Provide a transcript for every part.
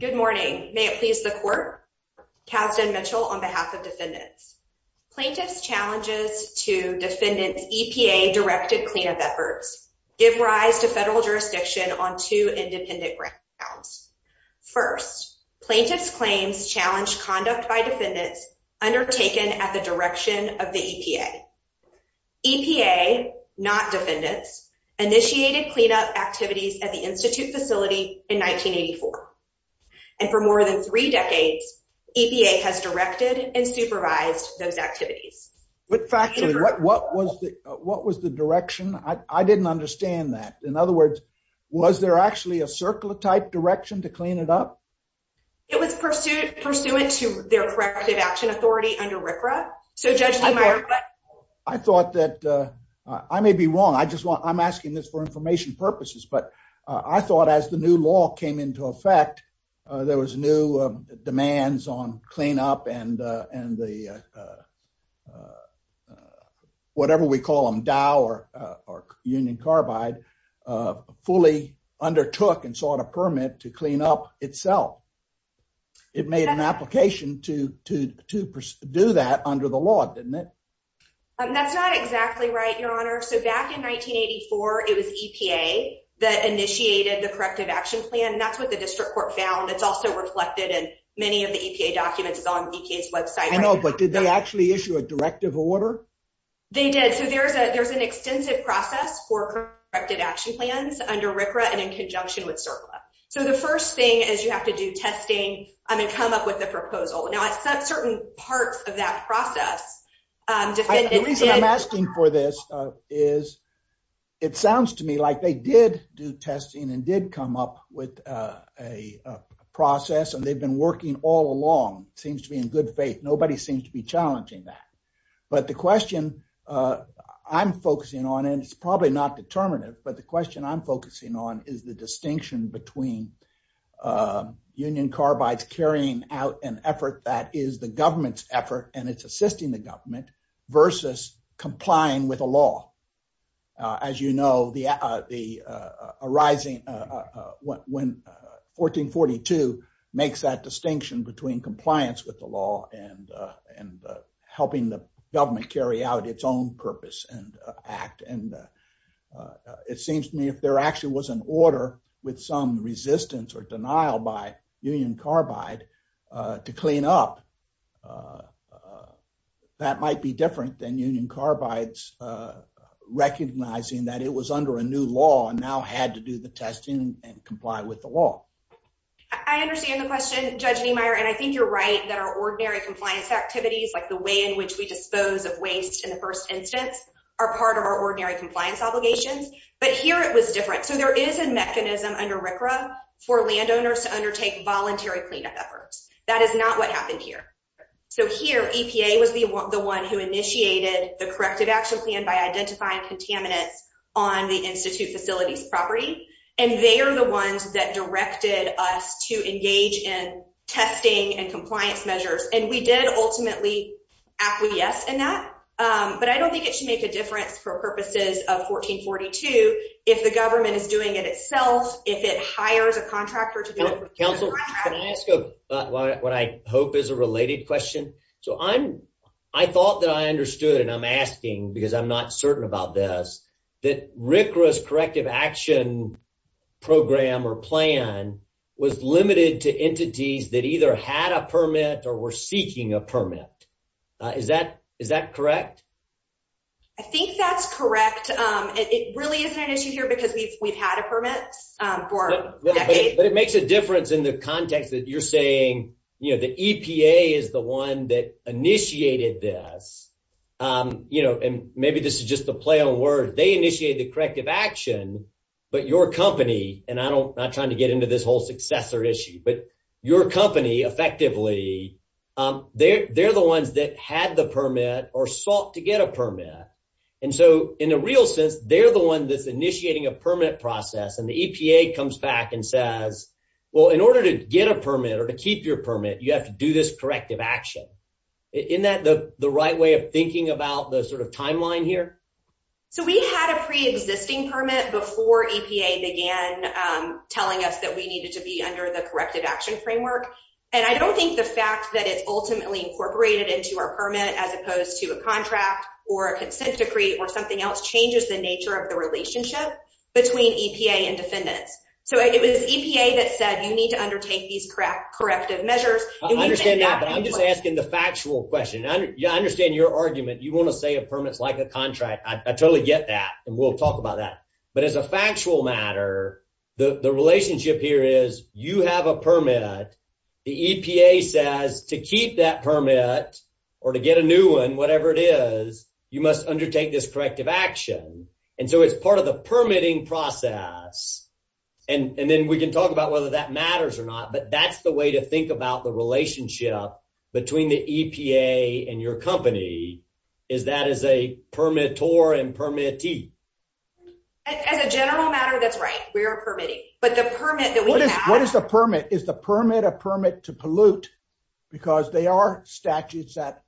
Good morning. May it please the court. Kasdan Mitchell on behalf of defendants. Plaintiffs' challenges to defendants' EPA-directed cleanup efforts give rise to federal jurisdiction on two independent grounds. First, plaintiffs' claims challenge conduct by defendants undertaken at the direction of the EPA. EPA, not defendants, initiated cleanup activities at the Institute facility in 1984. And for more than three decades, EPA has directed and supervised those activities. What was the direction? I didn't understand that. In other words, was there actually a circle-type direction to clean it up? It was pursuant to their corrective action authority under RCRA. I thought that I may be wrong. I'm asking this for information purposes, but I thought as the new law came into effect, there was new demands on cleanup and the whatever we call them, Dow or Union Carbide, fully undertook and sought a permit to clean up itself. It made an application to do that under the law, didn't it? That's not exactly right, Your Honor. Back in 1984, it was EPA that initiated the corrective action plan. That's what the district court found. It's also reflected in many of the EPA documents. It's on the EPA's website. I know, but did they actually issue a directive order? They did. There's an extensive process for corrective action plans under RCRA and in conjunction with CERCLA. The first thing is you have to do testing and come up with a proposal. Now, at certain parts of that process, the reason I'm asking for this is it sounds to me like they did do testing and did come up with a process and they've been working all along. It seems to be in good faith. Nobody seems to be challenging that. But the question I'm focusing on, and it's probably not determinative, but the question I'm focusing on is the distinction between Union Carbide's carrying out an effort that is the government's effort and it's assisting the government versus complying with the law. As you know, 1442 makes that distinction between compliance with the law and helping the government carry out its own purpose and act. It seems to me if there to clean up, that might be different than Union Carbide's recognizing that it was under a new law and now had to do the testing and comply with the law. I understand the question, Judge Niemeyer, and I think you're right that our ordinary compliance activities, like the way in which we dispose of waste in the first instance, are part of our ordinary compliance obligations. But here it was different. So there is a mechanism under RCRA for landowners to undertake voluntary cleanup efforts. That is not what happened here. So here, EPA was the one who initiated the corrective action plan by identifying contaminants on the Institute Facilities property. And they are the ones that directed us to engage in testing and compliance measures. And we did ultimately acquiesce in that. But I don't think it should make a difference for purposes of 1442 if the government is doing it itself, if it hires a contractor to do it. Counsel, can I ask what I hope is a related question? So I thought that I understood, and I'm asking because I'm not certain about this, that RCRA's corrective action program or plan was limited to entities that either had a permit or were seeking a permit. Is that correct? I think that's correct. It really isn't an issue here because we've had a permit for decades. But it makes a difference in the context that you're saying the EPA is the one that initiated this. And maybe this is just a play on words. They initiated the corrective action, but your company, and I'm not trying to get into this whole successor issue, but your company effectively, they're the ones that had the permit or sought to get a permit. And so in a real sense, they're the one that's initiating a permit process. And the EPA comes back and says, well, in order to get a permit or to keep your permit, you have to do this corrective action. Isn't that the right way of thinking about the timeline here? So we had a pre-existing permit before EPA began telling us that we needed to be under the corrective action framework. And I don't think the fact that it's ultimately incorporated into a permit as opposed to a contract or a consent decree or something else changes the nature of the relationship between EPA and defendants. So it was EPA that said you need to undertake these corrective measures. I understand that, but I'm just asking the factual question. I understand your argument. You want to say a permit's like a contract. I totally get that. And we'll talk about that. But as a factual matter, the relationship here is you have a permit. The EPA says to keep that permit or to get a new one, whatever it is, you must undertake this corrective action. And so it's part of the permitting process. And then we can talk about whether that matters or not, but that's the way to think about the relationship between the EPA and your company is that as a permitor and permittee. As a general matter, that's right. But the permit that we have- What is the permit? Is the permit a permit to pollute? Because they are statutes that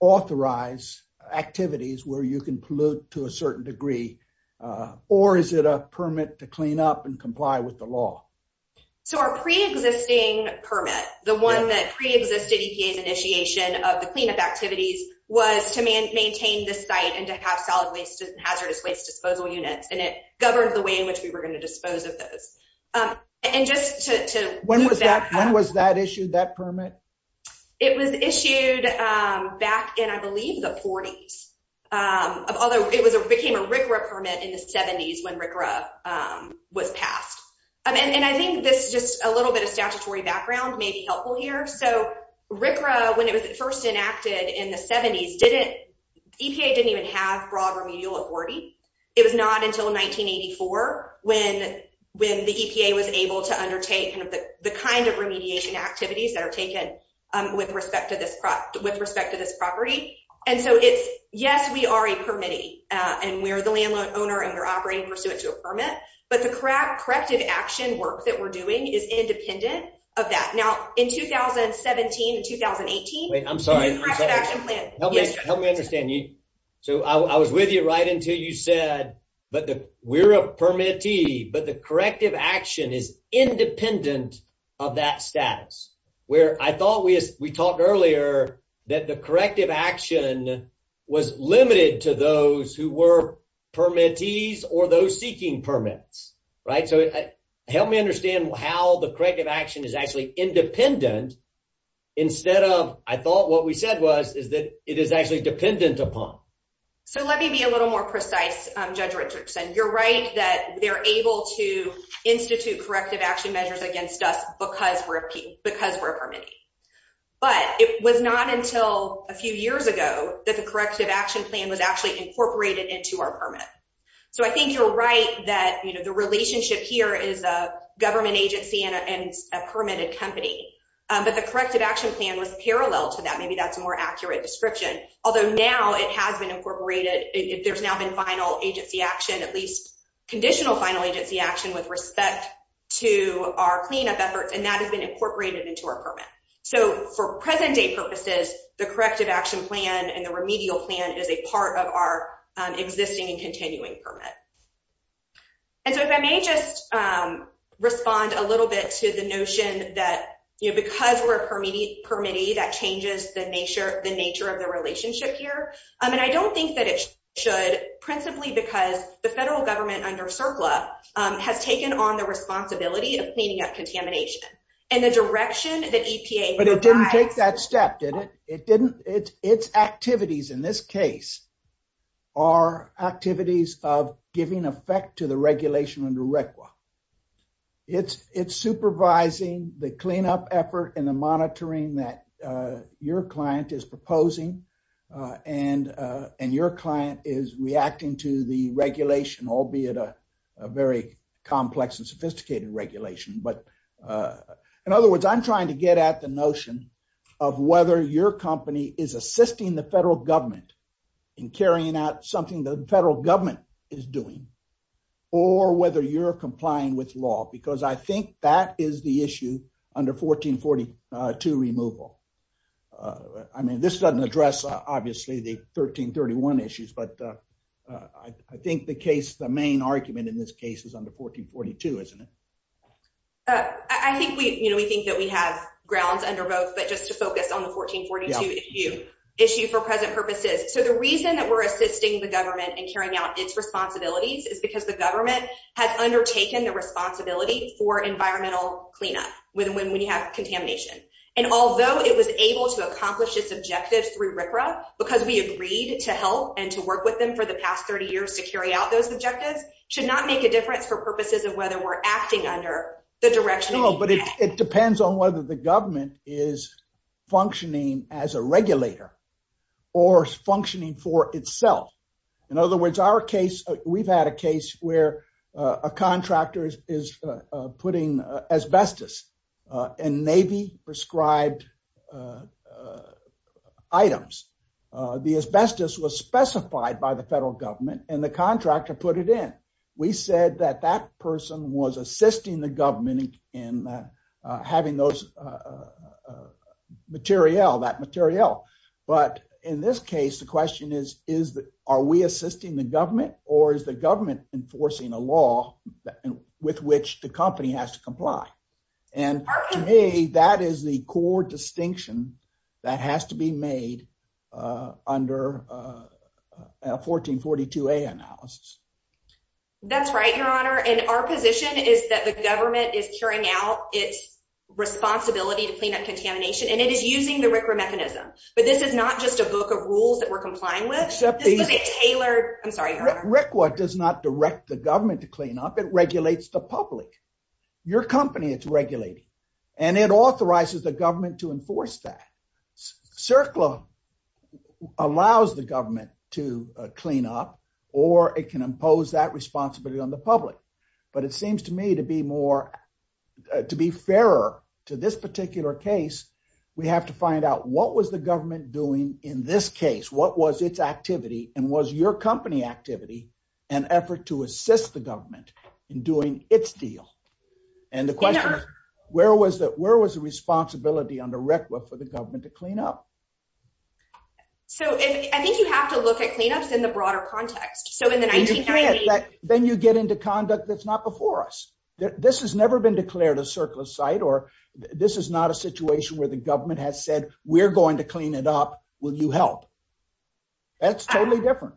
authorize activities where you can pollute to a certain degree. Or is it a permit to clean up and comply with the law? So our pre-existing permit, the one that pre-existed EPA's initiation of the cleanup activities was to maintain the site and to have solid waste and hazardous waste disposal units. And it governed the way in which we were going to dispose of those. And just to- When was that issued, that permit? It was issued back in, I believe, the 40s. Although it became a RCRA permit in the 70s when RCRA was passed. And I think this just a little bit of statutory background may be helpful here. So RCRA, when it was first enacted in the 70s, EPA didn't even have broad remedial authority. It was not until 1984 when the EPA was able to undertake the kind of remediation activities that are taken with respect to this property. And so it's- Yes, we are a permittee. And we're the landlord owner and we're operating pursuant to a permit. But the corrective action work that we're doing is independent of that. Now, in 2017 and 2018- Wait, I'm sorry. Help me understand. So I was with you right until you said, but we're a permittee, but the corrective action is independent of that status. Where I thought we talked earlier that the corrective action was limited to those who were permittees or those seeking permits, right? So help me understand how the corrective action is actually independent instead of, I thought what we said was, is that it is actually dependent upon. So let me be a little more precise, Judge Richardson. You're right that they're able to institute corrective action measures against us because we're a permittee. But it was not until a few years ago that the corrective action plan was actually incorporated into our permit. So I think you're right that the relationship here is a government agency and a permitted company. But the corrective action plan was parallel to that. Maybe that's a more accurate description. Although now it has been incorporated. There's now been final agency action, at least conditional final agency action with respect to our cleanup efforts. And that has been incorporated into our permit. So for present day purposes, the corrective action plan and the remedial plan is a part of our existing and continuing permit. And so if I may just respond a little bit to the notion that because we're a permittee, that changes the nature of the relationship here. And I don't think that it should principally because the federal government under CERCLA has taken on the responsibility of cleaning up contamination and the direction that EPA. But it didn't take that step, did it? It didn't. Its activities in this case are activities of giving effect to the regulation under RCRA. It's supervising the cleanup effort and the monitoring that your client is proposing. And your client is reacting to the regulation, albeit a very complex and sophisticated regulation. But in other words, I'm trying to get at the notion of whether your company is assisting the federal government in carrying out something the federal government is doing or whether you're complying with law, because I think that is the issue under 1442 removal. I mean, this doesn't address obviously the 1331 issues, but I think the case, the main argument in this case is under 1442, isn't it? I think we think that we have grounds under both, but just to focus on the 1442 issue for present purposes. So the reason that we're assisting the government and carrying out its responsibilities is because the government has undertaken the responsibility for environmental cleanup when you have contamination. And although it was able to accomplish its objectives through RCRA, because we agreed to help and to work with them for the past 30 years to carry out those objectives, should not make a difference for purposes of whether we're acting under the direction. No, but it depends on whether the government is functioning as a regulator or functioning for itself. In other words, we've had a case where a contractor is putting asbestos and Navy prescribed items. The asbestos was specified by the federal government and the we said that that person was assisting the government in having those material, that material. But in this case, the question is, are we assisting the government or is the government enforcing a law with which the company has to comply? And to me, that is the core distinction that has to be made, uh, under, uh, uh, 1442a analysis. That's right. Your honor. And our position is that the government is carrying out its responsibility to clean up contamination and it is using the RCRA mechanism, but this is not just a book of rules that we're complying with. I'm sorry. RCRA does not direct the government to clean up. It regulates the public, your company it's regulating, and it authorizes the government to enforce that. CERCLA allows the government to clean up, or it can impose that responsibility on the public. But it seems to me to be more, to be fairer to this particular case, we have to find out what was the government doing in this case? What was its activity? And was your company activity an effort to assist the government in doing its deal? And the question is, where was the, where was the responsibility under RCRA for the government to clean up? So I think you have to look at cleanups in the broader context. So in the 1990s, Then you get into conduct that's not before us. This has never been declared a CERCLA site, or this is not a situation where the government has said, we're going to clean it up. Will you help? That's totally different.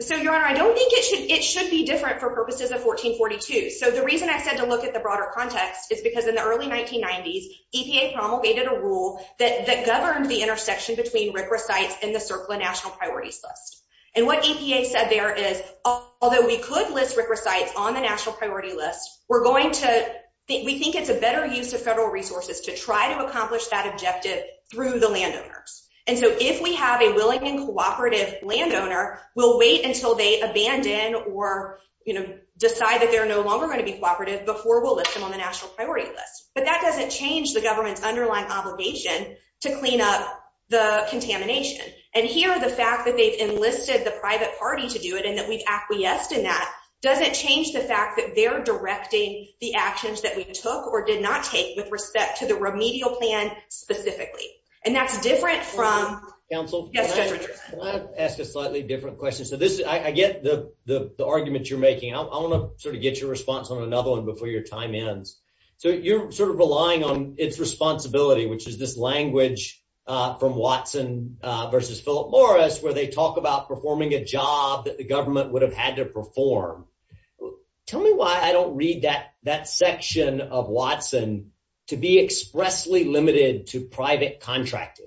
So your honor, I don't think it should, it should be different for purposes of 1442. So the reason I said to look at the broader context is because in the early 1990s, EPA promulgated a rule that governed the intersection between RCRA sites and the CERCLA national priorities list. And what EPA said there is, although we could list RCRA sites on the national priority list, we're going to, we think it's a better use of federal resources to try to accomplish that objective through the landowners. And so if we have a willing and cooperative landowner, we'll wait until they abandon or decide that they're no longer going to be cooperative before we'll list them on the national priority list. But that doesn't change the government's underlying obligation to clean up the contamination. And here, the fact that they've enlisted the private party to do it and that we've acquiesced in that doesn't change the fact that they're directing the actions that we took or did not take with respect to the remedial plan specifically. And that's different from- Counsel, can I ask a slightly different question? So this is, I get the argument you're making. I want to sort of get your response on another one before your time ends. So you're sort of relying on its responsibility, which is this language from Watson versus Philip Morris, where they talk about performing a job that the government would have had to perform. Tell me why I don't that section of Watson to be expressly limited to private contracting.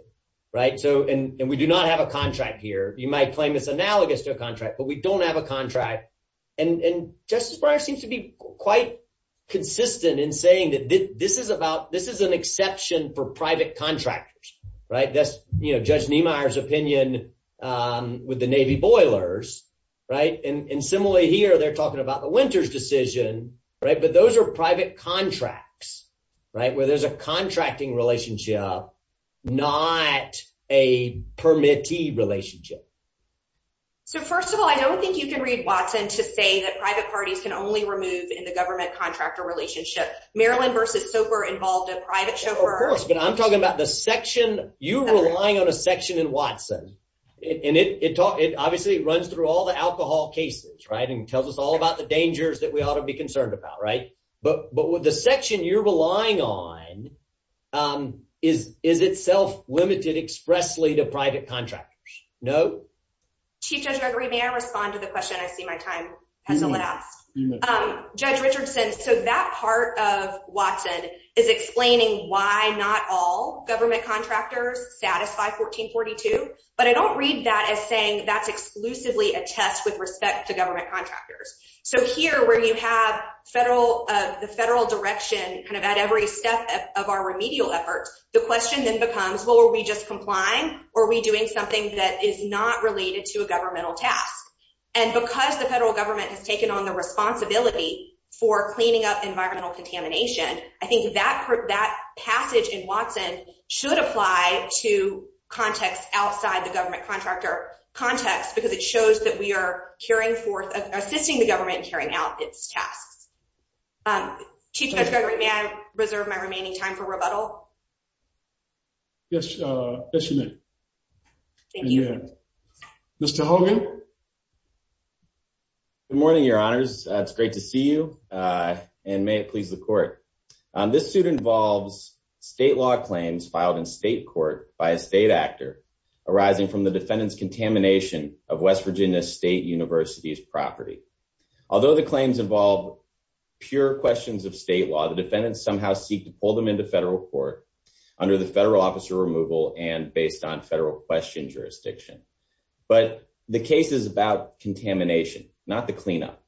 And we do not have a contract here. You might claim it's analogous to a contract, but we don't have a contract. And Justice Breyer seems to be quite consistent in saying that this is an exception for private contractors. That's Judge Niemeyer's opinion with the Navy boilers. And similarly here, they're talking about the Winters decision, right? But those are private contracts, right? Where there's a contracting relationship, not a permittee relationship. So first of all, I don't think you can read Watson to say that private parties can only remove in the government contractor relationship. Maryland versus SOFR involved a private chauffeur. Of course, but I'm talking about the section, you relying on a section in Watson, and it obviously runs through all the alcohol cases, right? And it tells us all about the dangers that we ought to be concerned about, right? But with the section you're relying on is itself limited expressly to private contractors. No? Chief Judge Gregory, may I respond to the question? I see my time has elapsed. Judge Richardson, so that part of Watson is explaining why not all government contractors satisfy 1442, but I don't read that as saying that's exclusively a test with respect to government contractors. So here where you have the federal direction kind of at every step of our remedial efforts, the question then becomes, well, are we just complying or are we doing something that is not related to a governmental task? And because the federal government has taken on the responsibility for cleaning up environmental contamination, I think that passage in Watson should apply to context outside the government contractor context, because it shows that we are carrying forth assisting the government and carrying out its tasks. Chief Judge Gregory, may I reserve my remaining time for rebuttal? Yes. Yes, you may. Thank you. Mr. Hogan. Good morning, your honors. It's great to see you. And may it please the court. This suit involves state law claims filed in state court by a state actor arising from the defendant's contamination of West Virginia State University's property. Although the claims involve pure questions of state law, the defendants somehow seek to pull them into federal court under the federal officer removal and based on federal question jurisdiction. But the case is about contamination, not the cleanup.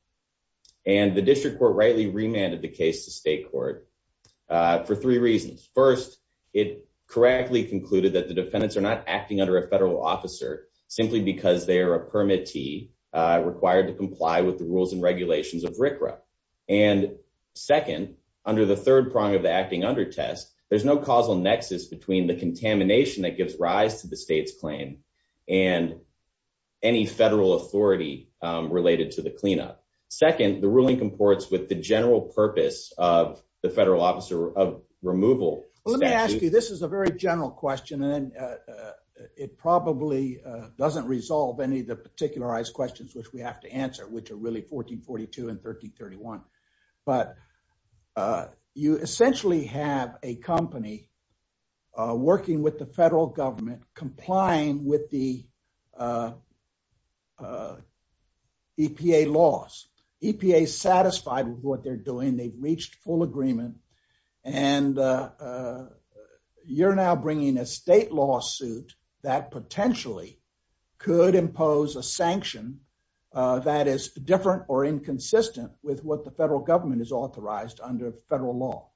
And the district court rightly remanded the case to state court for three reasons. First, it correctly concluded that the defendants are not acting under a federal officer simply because they are a permittee required to comply with the rules and regulations of RCRA. And second, under the third prong of the acting under test, there's no causal nexus between the contamination that gives rise to the state's claim and any federal authority related to the cleanup. Second, the ruling comports with the general purpose of the federal officer of removal. Let me ask you, this is a very general question. And it probably doesn't resolve any of the particularized questions which we have to answer, which are really 1442 and 1331. But you essentially have a company working with the federal government complying with the EPA laws, EPA satisfied with what they're doing, they've reached full agreement. And you're now bringing a state lawsuit that potentially could impose a sanction that is different or inconsistent with what the federal government is authorized under federal law.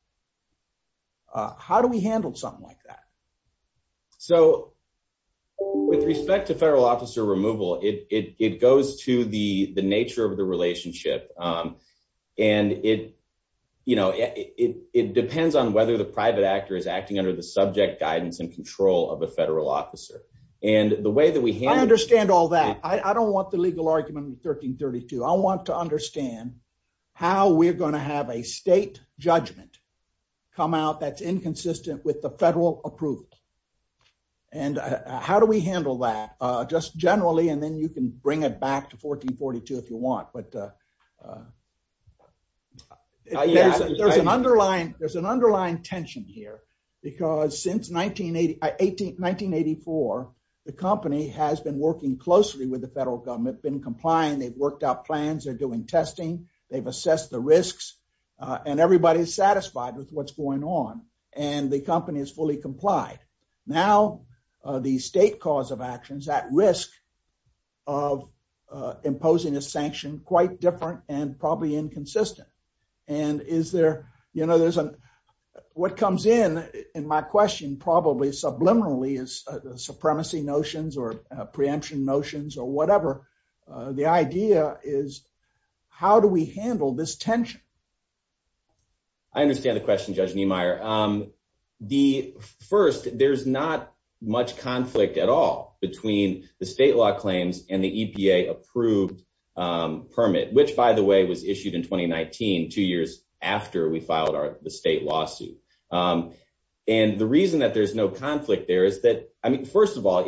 How do we handle something like that? So with respect to federal officer removal, it goes to the nature of the relationship. And it depends on whether the private actor is acting under the subject guidance and control of a federal officer. And the way that we have- I understand all that. I don't want the legal argument in 1332. I want to understand how we're going to have a state judgment come out that's inconsistent with the federal approval. And how do we handle that? Just generally, and then you can bring it back to 1442 if you want, but there's an underlying tension here. Because since 1984, the company has been working closely with the federal government, been complying, they've worked out plans, they're doing testing, they've assessed the risks, and everybody's satisfied with what's going on. And the company is fully complied. Now, the state cause of actions at risk of imposing a sanction quite different and probably inconsistent. And what comes in, in my question, probably subliminally is the supremacy notions or preemption notions or whatever. The idea is, how do we handle this first, there's not much conflict at all between the state law claims and the EPA approved permit, which by the way, was issued in 2019, two years after we filed the state lawsuit. And the reason that there's no conflict there is that, I mean, first of all,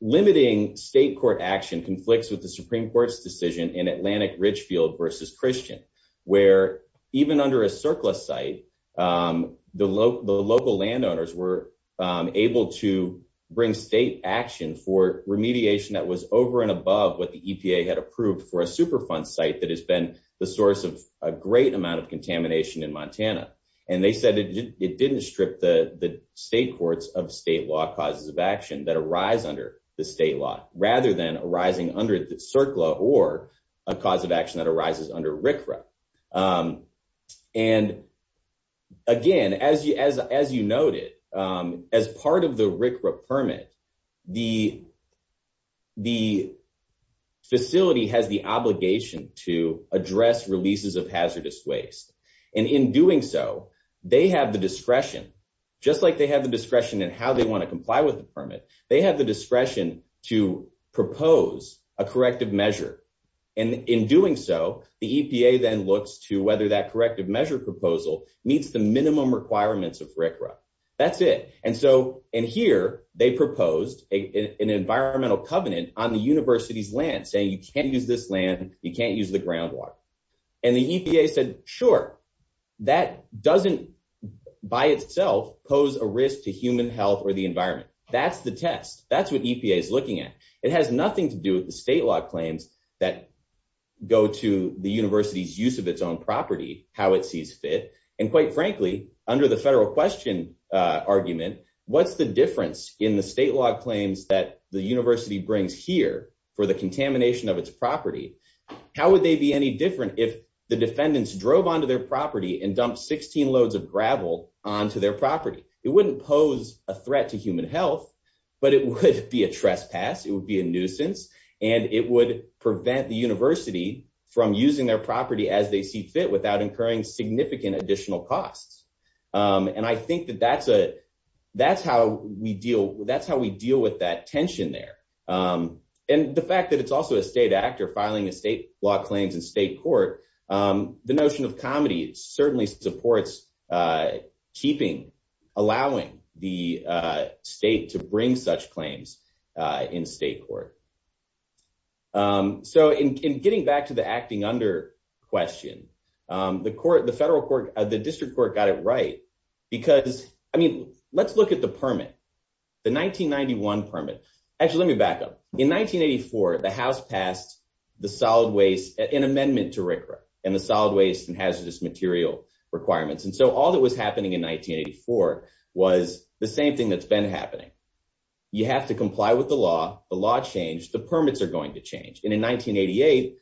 limiting state court action conflicts with the Supreme Court's decision in Atlantic Richfield versus Christian, where even under a surplus site, the local landowners were able to bring state action for remediation that was over and above what the EPA had approved for a superfund site that has been the source of a great amount of contamination in Montana. And they said it didn't strip the state courts of state law causes of action that arise under the state law rather than arising under the CERCLA or a cause of action that arises under RCRA. And again, as you noted, as part of the RCRA permit, the facility has the obligation to address releases of hazardous waste. And in doing so, they have the discretion, just like they have the discretion in how they comply with the permit, they have the discretion to propose a corrective measure. And in doing so, the EPA then looks to whether that corrective measure proposal meets the minimum requirements of RCRA. That's it. And so, and here they proposed an environmental covenant on the university's land saying you can't use this land, you can't use the groundwater. And the EPA said, sure, that doesn't by itself pose a risk to human health or the environment. That's the test. That's what EPA is looking at. It has nothing to do with the state law claims that go to the university's use of its own property, how it sees fit. And quite frankly, under the federal question argument, what's the difference in the state law claims that the university brings here for the property and dump 16 loads of gravel onto their property? It wouldn't pose a threat to human health, but it would be a trespass, it would be a nuisance, and it would prevent the university from using their property as they see fit without incurring significant additional costs. And I think that that's how we deal with that tension there. And the fact that it's also a state act or filing a state law claims in state court, the notion of comedy certainly supports keeping, allowing the state to bring such claims in state court. So in getting back to the acting under question, the court, the federal court, the district court got it right. Because, I mean, let's look at the permit, the 1991 permit. Actually, let me back up. In 1984, the house passed the solid waste, an amendment to RCRA and the solid waste and hazardous material requirements. And so all that was happening in 1984 was the same thing that's been happening. You have to comply with the law, the law changed, the permits are going to change. And in 1988,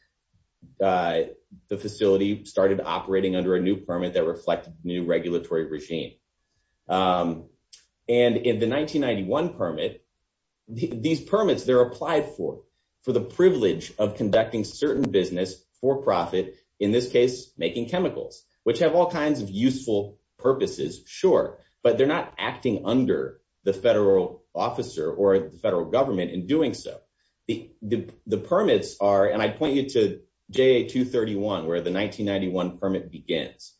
the facility started operating under a new permit that reflected new regulatory regime. And in the 1991 permit, these permits, they're applied for, for the privilege of conducting certain business for profit, in this case, making chemicals, which have all kinds of useful purposes, sure, but they're not acting under the federal officer or the federal government in doing so. The permits are, and I point you to JA 231, where the 1991 permit begins.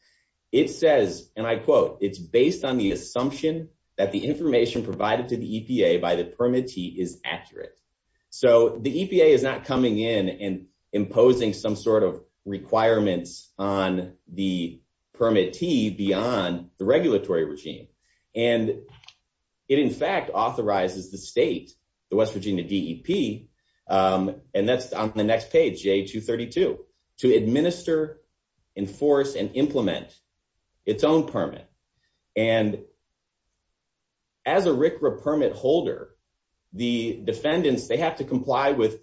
It says, and I quote, it's based on the assumption that the information provided to the EPA by the permittee is accurate. So the EPA is not coming in and imposing some sort of requirements on the permittee beyond the regulatory regime. And it, in fact, authorizes the state, the West Virginia DEP, and that's on the next page, JA 232, to administer, enforce, and implement its own permit. And as a RCRA permit holder, the defendants, they have to comply with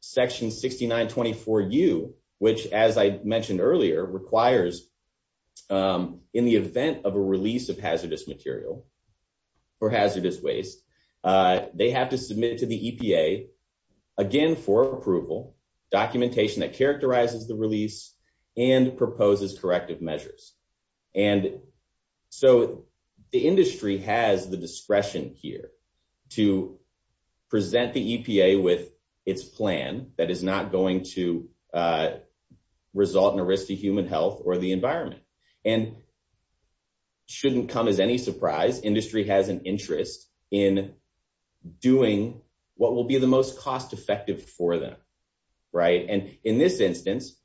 section 6924U, which, as I mentioned earlier, requires in the event of a release of hazardous material or hazardous waste, they have to submit to the EPA, again, for approval, documentation that characterizes the release, and proposes corrective measures. And so the industry has the discretion here to present the EPA with its plan that is not going to result in a risk to human health or the environment. And shouldn't come as any surprise, industry has an interest in doing what will be the most cost effective for them, right? And in this instance,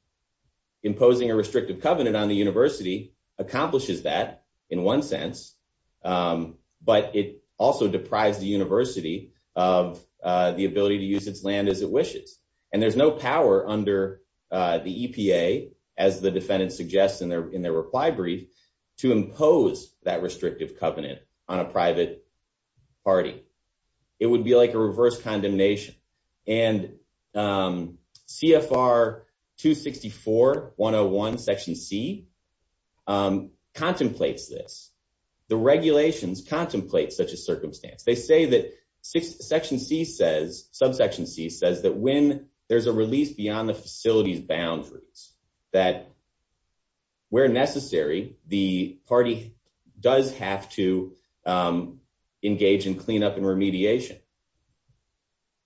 imposing a restrictive covenant on the university accomplishes that in one sense, but it also deprives the university of the ability to use its land as it wishes. And there's no power under the EPA, as the defendant suggests in their reply brief, to impose that restrictive covenant on a private party. It would be like a reverse condemnation. And CFR 264-101, section C, contemplates this. The regulations contemplate such a circumstance. They say that section C says, subsection C says that when there's a release beyond the facility's boundaries, that where necessary, the party does have to engage in cleanup and remediation.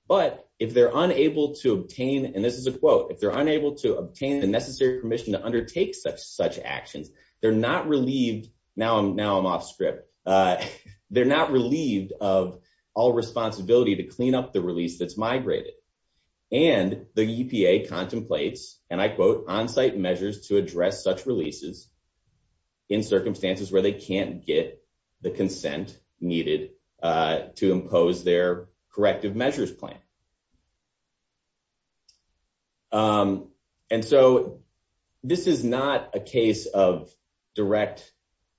But if they're unable to obtain, and this is a quote, if they're unable to obtain the necessary permission to undertake such actions, they're not relieved, now I'm off script, they're not relieved of all responsibility to clean up the release that's migrated. And the EPA contemplates, and I quote, onsite measures to address such releases in circumstances where they can't get the consent needed to impose their corrective measures plan. And so, this is not a case of direct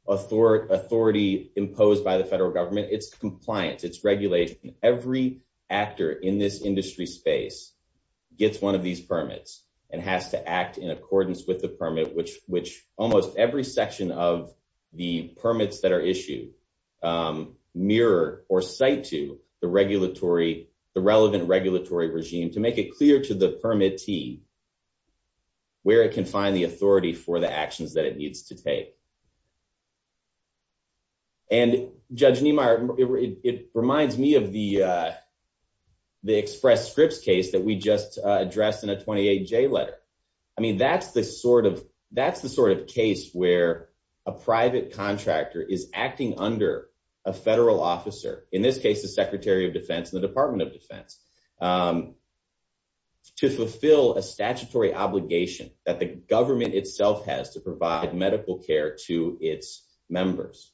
authority imposed by the federal government. It's compliance, it's regulation. Every actor in this industry space gets one of these permits and has to act in accordance with the permit, which almost every section of the permits that are issued mirror or cite to the regulatory, the relevant regulatory regime to make it clear to the permittee where it can find the authority for the actions that it needs to take. And Judge Niemeyer, it reminds me of the express scripts case that we just addressed in a 28J letter. I mean, that's the sort of case where a private contractor is acting under a federal officer, in this case, the Secretary of Defense and the Department of Defense, to fulfill a statutory obligation that the government itself has to provide medical care to its members.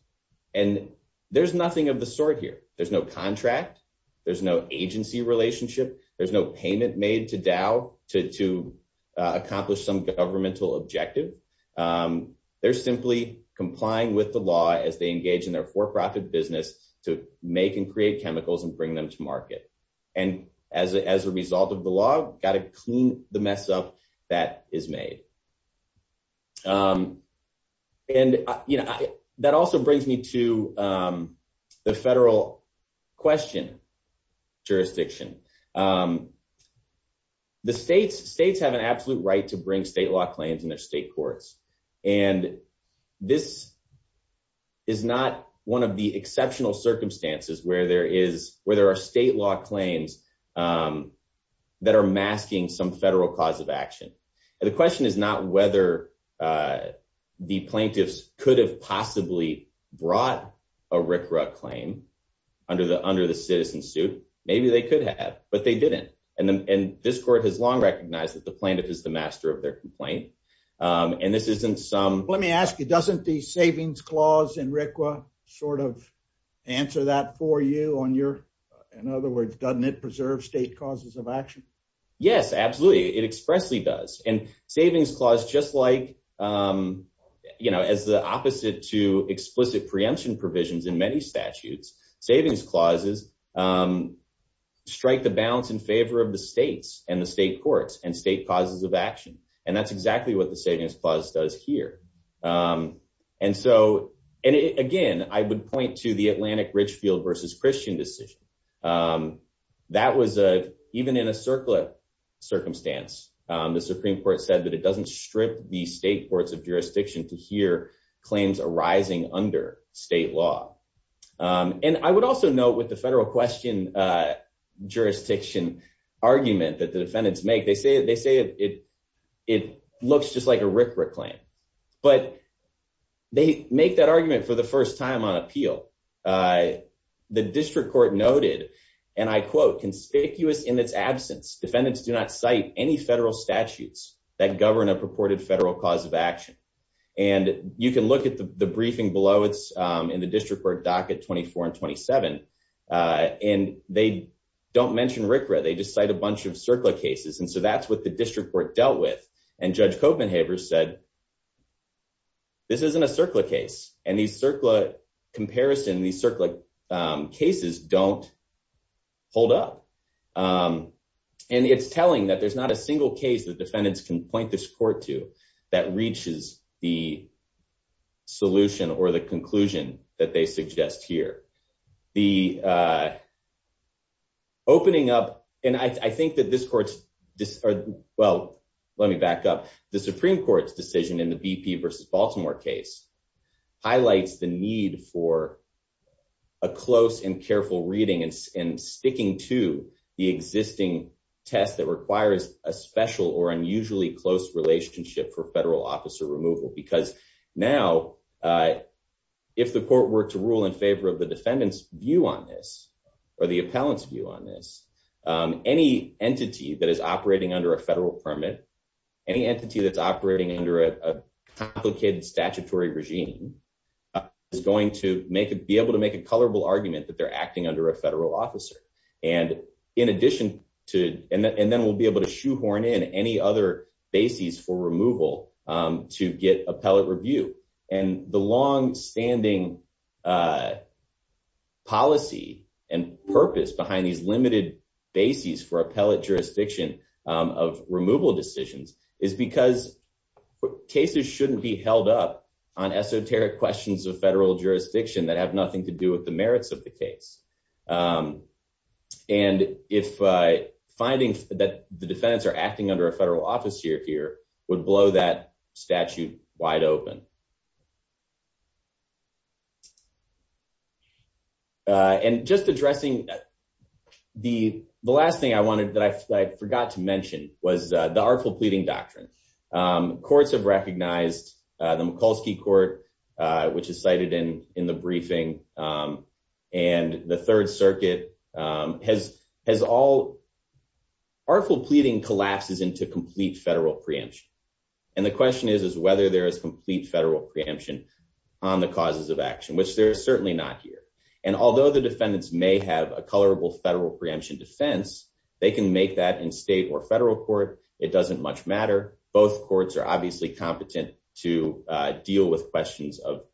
And there's nothing of the sort here. There's no contract, there's no agency relationship, there's no payment made to Dow to accomplish some governmental objective. They're simply complying with the law as they engage in their for-profit business to make and create chemicals and bring them to market. And as a result of the law, got to clean the mess up that is made. And that also brings me to the federal question jurisdiction. The states have an absolute right to bring state law claims in their state courts. And this is not one of the exceptional circumstances where there are state law claims that are masking some federal cause of action. The question is not whether the plaintiffs could have possibly brought a RCRA claim under the citizen suit. Maybe they could have, but they didn't. And this court has long recognized that the plaintiff is the master of their complaint. And this isn't some... Let me ask you, doesn't the savings clause in RCRA sort of answer that for you on your... In other words, doesn't it preserve state causes of action? Yes, absolutely. It expressly does. And savings clause, just like as the opposite to explicit preemption provisions in many statutes, savings clauses strike the balance in favor of the states and the state courts and state causes of action. And that's exactly what the savings clause does here. And again, I would point to the Atlantic Richfield versus Christian decision. That was even in a circular circumstance, the Supreme Court said that it doesn't strip the state courts of jurisdiction to hear claims arising under state law. And I would also note with the federal question jurisdiction argument that the defendants make, they say it looks just like a RCRA claim, but they make that argument for the first time on appeal. The district court noted, and I quote, conspicuous in its absence, defendants do not cite any federal statutes that govern a purported federal cause of action. And you can look at the briefing below, it's in the district court docket 24 and 27. And they don't mention RCRA, they just cite a bunch of circular cases. And so that's what the district court dealt with. And Judge Copenhaver said, this isn't a circular case. And these circular comparison, these circular cases don't hold up. And it's telling that there's not a single case that defendants can point this court to that reaches the solution or the conclusion that they suggest here. The opening up, and I think this court's, well, let me back up. The Supreme Court's decision in the BP versus Baltimore case highlights the need for a close and careful reading and sticking to the existing test that requires a special or unusually close relationship for federal officer removal. Because now, if the court were to rule in favor of the defendant's view on this, or the appellant's view on this, any entity that is operating under a federal permit, any entity that's operating under a complicated statutory regime is going to be able to make a colorable argument that they're acting under a federal officer. And then we'll be able to shoehorn in any other bases for removal to get appellate review. And the long-standing policy and purpose behind these limited bases for appellate jurisdiction of removal decisions is because cases shouldn't be held up on esoteric questions of federal jurisdiction that have nothing to do with the merits of the case. And if finding that the defendants are acting under a federal officer here would blow that statute wide open. And just addressing the last thing I wanted, that I forgot to mention, was the artful pleading doctrine. Courts have recognized the Mikulski Court, which is cited in the briefing, and the question is whether there is complete federal preemption on the causes of action, which there is certainly not here. And although the defendants may have a colorable federal preemption defense, they can make that in state or federal court. It doesn't much matter. Both courts are obviously competent to deal with questions of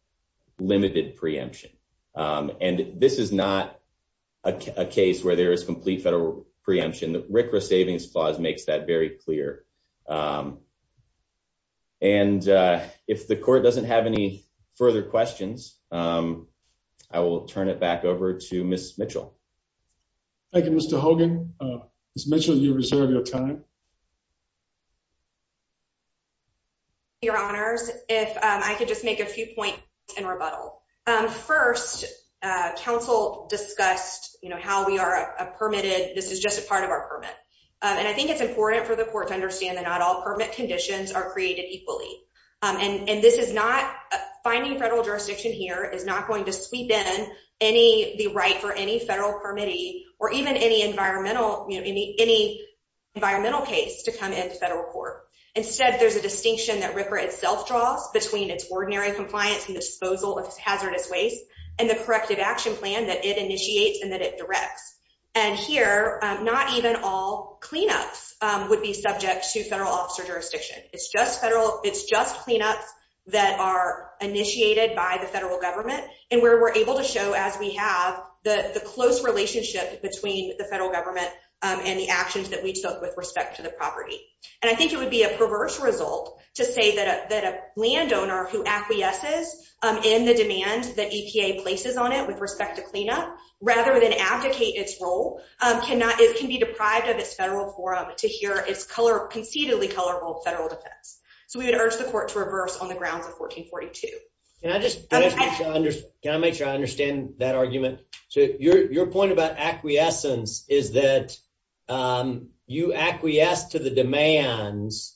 limited preemption. And this is not a case where there is complete federal preemption. The RCRA Savings Clause makes that very clear. And if the court doesn't have any further questions, I will turn it back over to Ms. Mitchell. Thank you, Mr. Hogan. Ms. Mitchell, you reserve your time. Your Honors, if I could just make a few points in rebuttal. First, counsel discussed how this is just a part of our permit. And I think it's important for the court to understand that not all permit conditions are created equally. And finding federal jurisdiction here is not going to sweep in the right for any federal permittee or even any environmental case to come into federal court. Instead, there's a distinction that RCRA itself draws between its corrective action plan that it initiates and that it directs. And here, not even all cleanups would be subject to federal officer jurisdiction. It's just cleanups that are initiated by the federal government. And we're able to show, as we have, the close relationship between the federal government and the actions that we took with respect to the property. And I think it would a perverse result to say that a landowner who acquiesces in the demand that EPA places on it with respect to cleanup, rather than abdicate its role, can be deprived of its federal forum to hear its concededly colorful federal defense. So we would urge the court to reverse on the grounds of 1442. Can I make sure I understand that argument? So your point about acquiescence is that you acquiesce to the demands.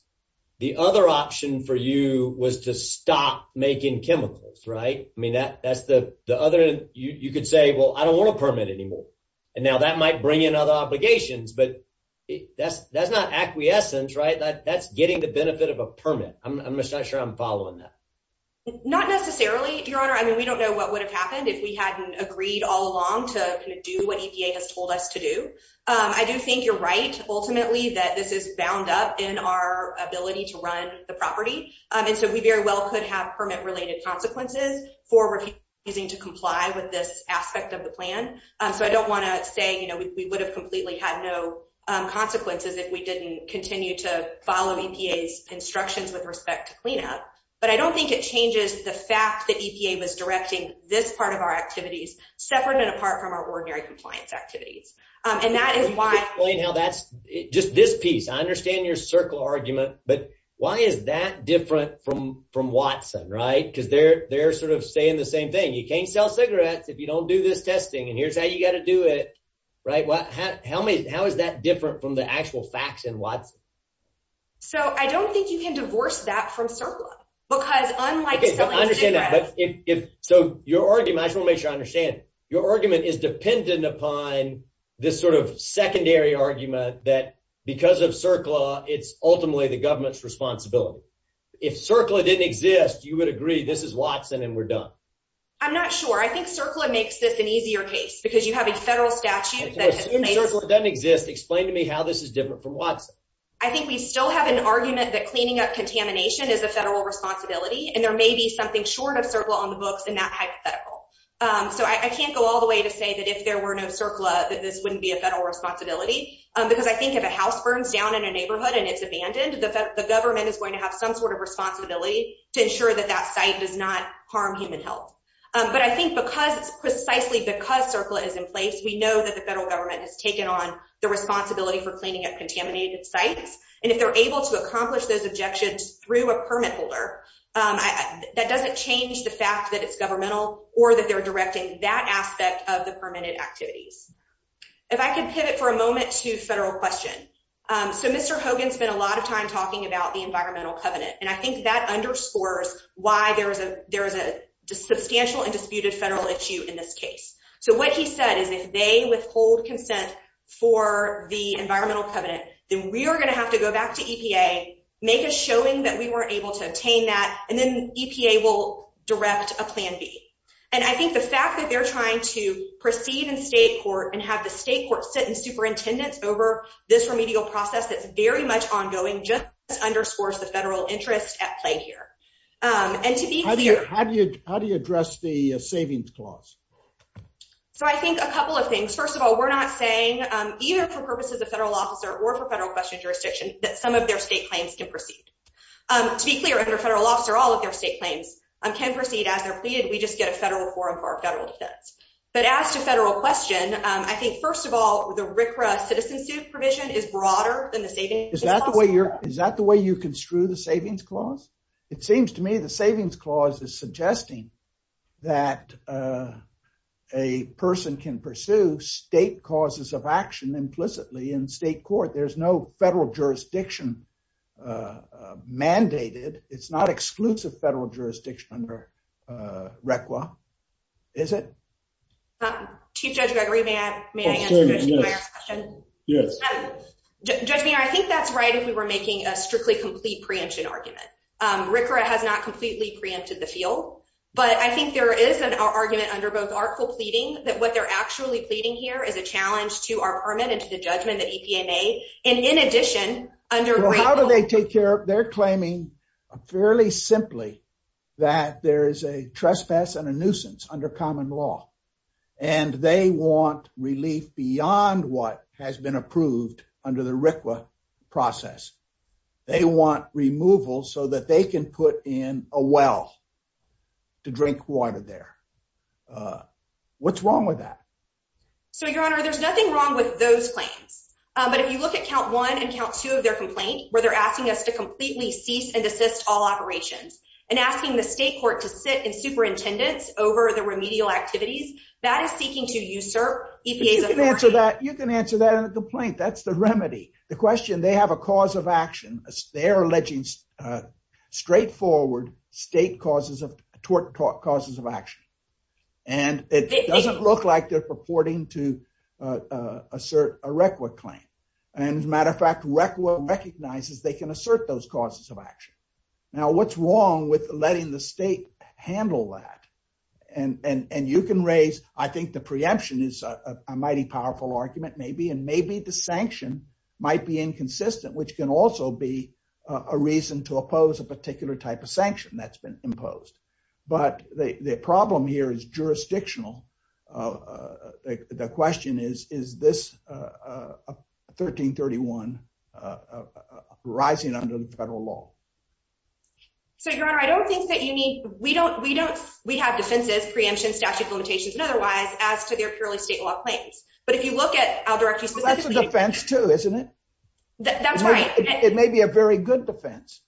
The other option for you was to stop making chemicals, right? I mean, that's the other. You could say, well, I don't want a permit anymore. And now that might bring in other obligations, but that's not acquiescence, right? That's getting the benefit of a permit. I'm just not sure I'm following that. Not necessarily, Your Honor. I mean, we don't know what would have happened if we hadn't agreed all along to do what EPA has told us to do. I do think you're right, ultimately, that this is bound up in our ability to run the property. And so we very well could have permit-related consequences for refusing to comply with this aspect of the plan. So I don't want to say we would have completely had no consequences if we didn't continue to follow EPA's instructions with respect to cleanup. But I don't think it changes the fact that EPA was directing this part of our activities. And that is why- Can you explain how that's, just this piece, I understand your CERCLA argument, but why is that different from Watson, right? Because they're sort of saying the same thing. You can't sell cigarettes if you don't do this testing, and here's how you got to do it, right? How is that different from the actual facts in Watson? So I don't think you can divorce that from CERCLA, because unlike selling cigarettes- Okay, I understand that. So your argument, I just want to make sure I understand, your argument is dependent upon this sort of secondary argument that because of CERCLA, it's ultimately the government's responsibility. If CERCLA didn't exist, you would agree this is Watson and we're done. I'm not sure. I think CERCLA makes this an easier case, because you have a federal statute that- If you assume CERCLA doesn't exist, explain to me how this is different from Watson. I think we still have an argument that cleaning up contamination is a federal responsibility, and there may be something short of CERCLA on the books in that hypothetical. So I can't go all the way to say that if there were no CERCLA, that this wouldn't be a federal responsibility, because I think if a house burns down in a neighborhood and it's abandoned, the government is going to have some sort of responsibility to ensure that that site does not harm human health. But I think because it's precisely because CERCLA is in place, we know that the federal government has taken on the responsibility for cleaning up contaminated sites, and if they're able to accomplish those objections through a permit holder, that doesn't change the fact that it's governmental or that they're directing that aspect of the permitted activities. If I could pivot for a moment to federal question. So Mr. Hogan spent a lot of time talking about the environmental covenant, and I think that underscores why there is a substantial and disputed federal issue in this case. So what he said is if they withhold consent for the environmental covenant, then we are going to have to go back to EPA, make a showing that we weren't able to obtain that, and then EPA will direct a plan B. And I think the fact that they're trying to proceed in state court and have the state court sit in superintendence over this remedial process that's very much ongoing just underscores the federal interest at play here. And to be clear- How do you address the savings clause? So I think a couple of things. First of all, we're not saying either for purposes of federal officer or for federal question jurisdiction that some of their state claims can proceed. To be clear, under federal officer, all of their state claims can proceed as they're pleaded, we just get a federal quorum for our federal defense. But as to federal question, I think, first of all, the RCRA citizen supervision is broader than the savings clause. Is that the way you're- Is that the way you construe the savings clause? It seems to me the savings clause is suggesting that a person can pursue state causes of action implicitly in state court. There's no federal jurisdiction mandated. It's not exclusive federal jurisdiction under RCRA. Is it? Chief Judge Gregory, may I answer your question? Yes. Judge Mayer, I think that's right if we were making a strictly complete preemption argument. RCRA has not completely preempted the field, but I think there is an argument under both article pleading that what they're actually pleading here is a challenge to our permit and to the judgment that EPA made. And in addition, under- Well, how do they take care of... They're claiming fairly simply that there is a trespass and a nuisance under common law. And they want relief beyond what has been approved under the RCRA process. They want removal so that they can a well to drink water there. What's wrong with that? So, Your Honor, there's nothing wrong with those claims. But if you look at count one and count two of their complaint, where they're asking us to completely cease and desist all operations and asking the state court to sit in superintendence over the remedial activities, that is seeking to usurp EPA's authority- You can answer that in a complaint. That's remedy. The question, they have a cause of action. They're alleging straightforward state causes of action. And it doesn't look like they're purporting to assert a RCRA claim. And as a matter of fact, RCRA recognizes they can assert those causes of action. Now, what's wrong with letting the state handle that? And you can raise, I think the preemption is a mighty powerful argument, maybe. And maybe the sanction might be inconsistent, which can also be a reason to oppose a particular type of sanction that's been imposed. But the problem here is jurisdictional. The question is, is this 1331 rising under the federal law? So, Your Honor, I don't think that you need- We have defenses, preemption, statute of limitations and otherwise, as to their purely state law claims. But if you look at, I'll direct you specifically- That's a defense too, isn't it? That's right. It may be a very good defense.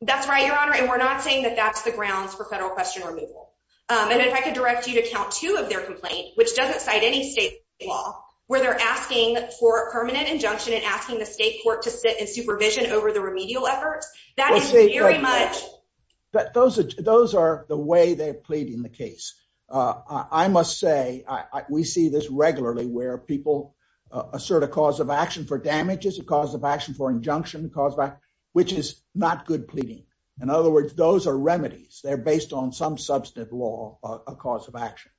That's right, Your Honor. And we're not saying that that's the grounds for federal question removal. And if I could direct you to count two of their complaint, which doesn't cite any state law, where they're asking for a permanent injunction and asking the state court to sit in supervision over the remedial efforts, that is very much- Those are the way they're pleading the case. I must say, we see this regularly where people assert a cause of action for damages, a cause of action for injunction, which is not good pleading. In other words, those are remedies. They're based on some substantive law, a cause of action.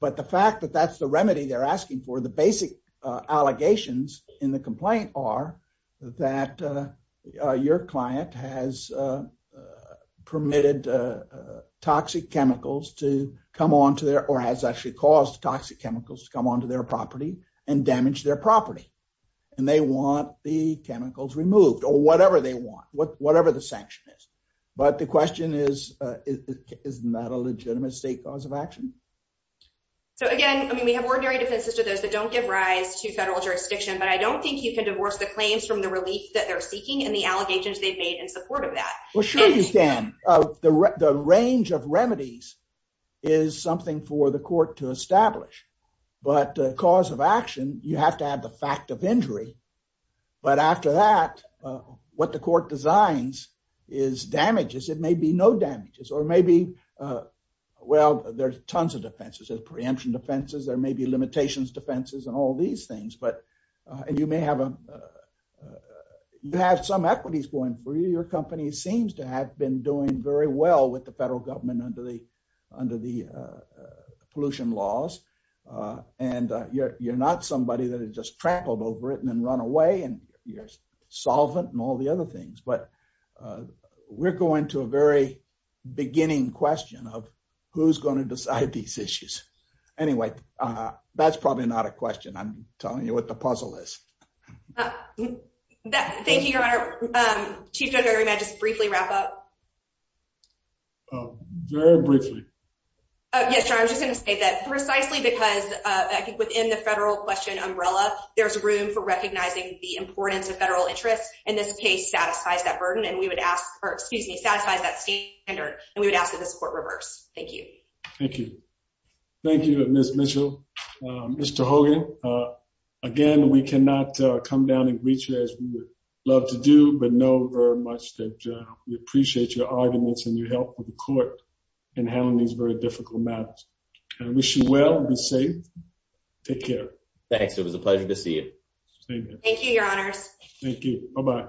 But the fact that that's the remedy they're asking for, the basic allegations in the case is that the state has permitted toxic chemicals to come onto their, or has actually caused toxic chemicals to come onto their property and damage their property. And they want the chemicals removed or whatever they want, whatever the sanction is. But the question is, isn't that a legitimate state cause of action? So again, I mean, we have ordinary defenses to those that don't give rise to federal jurisdiction, but I don't think you can divorce the claims from the Well, sure you can. The range of remedies is something for the court to establish, but the cause of action, you have to add the fact of injury. But after that, what the court designs is damages. It may be no damages or maybe, well, there's tons of defenses. There's preemption defenses. There may be limitations defenses and all these things. And you may have some equities going for you. Your company seems to have been doing very well with the federal government under the pollution laws. And you're not somebody that had just trampled over it and then run away and you're solvent and all the other things. But we're going to a very beginning question of who's going to decide these issues. Anyway, that's probably not a question. I'm telling you what the puzzle is. Thank you, Your Honor. Chief Judge, I just briefly wrap up. Very briefly. Yes, I'm just going to say that precisely because I think within the federal question umbrella, there's room for recognizing the importance of federal interest. And this case satisfies that burden. And we would ask or excuse me, satisfies that standard. And we would ask this court reverse. Thank you. Thank you. Thank you, Miss Mitchell. Mr. Hogan. Again, we cannot come down and reach you as we would love to do, but know very much that we appreciate your arguments and your help with the court in handling these very difficult matters. I wish you well be safe. Take care. Thanks. It was a pleasure to see you. Thank you, Your Honors. Thank you. Bye-bye.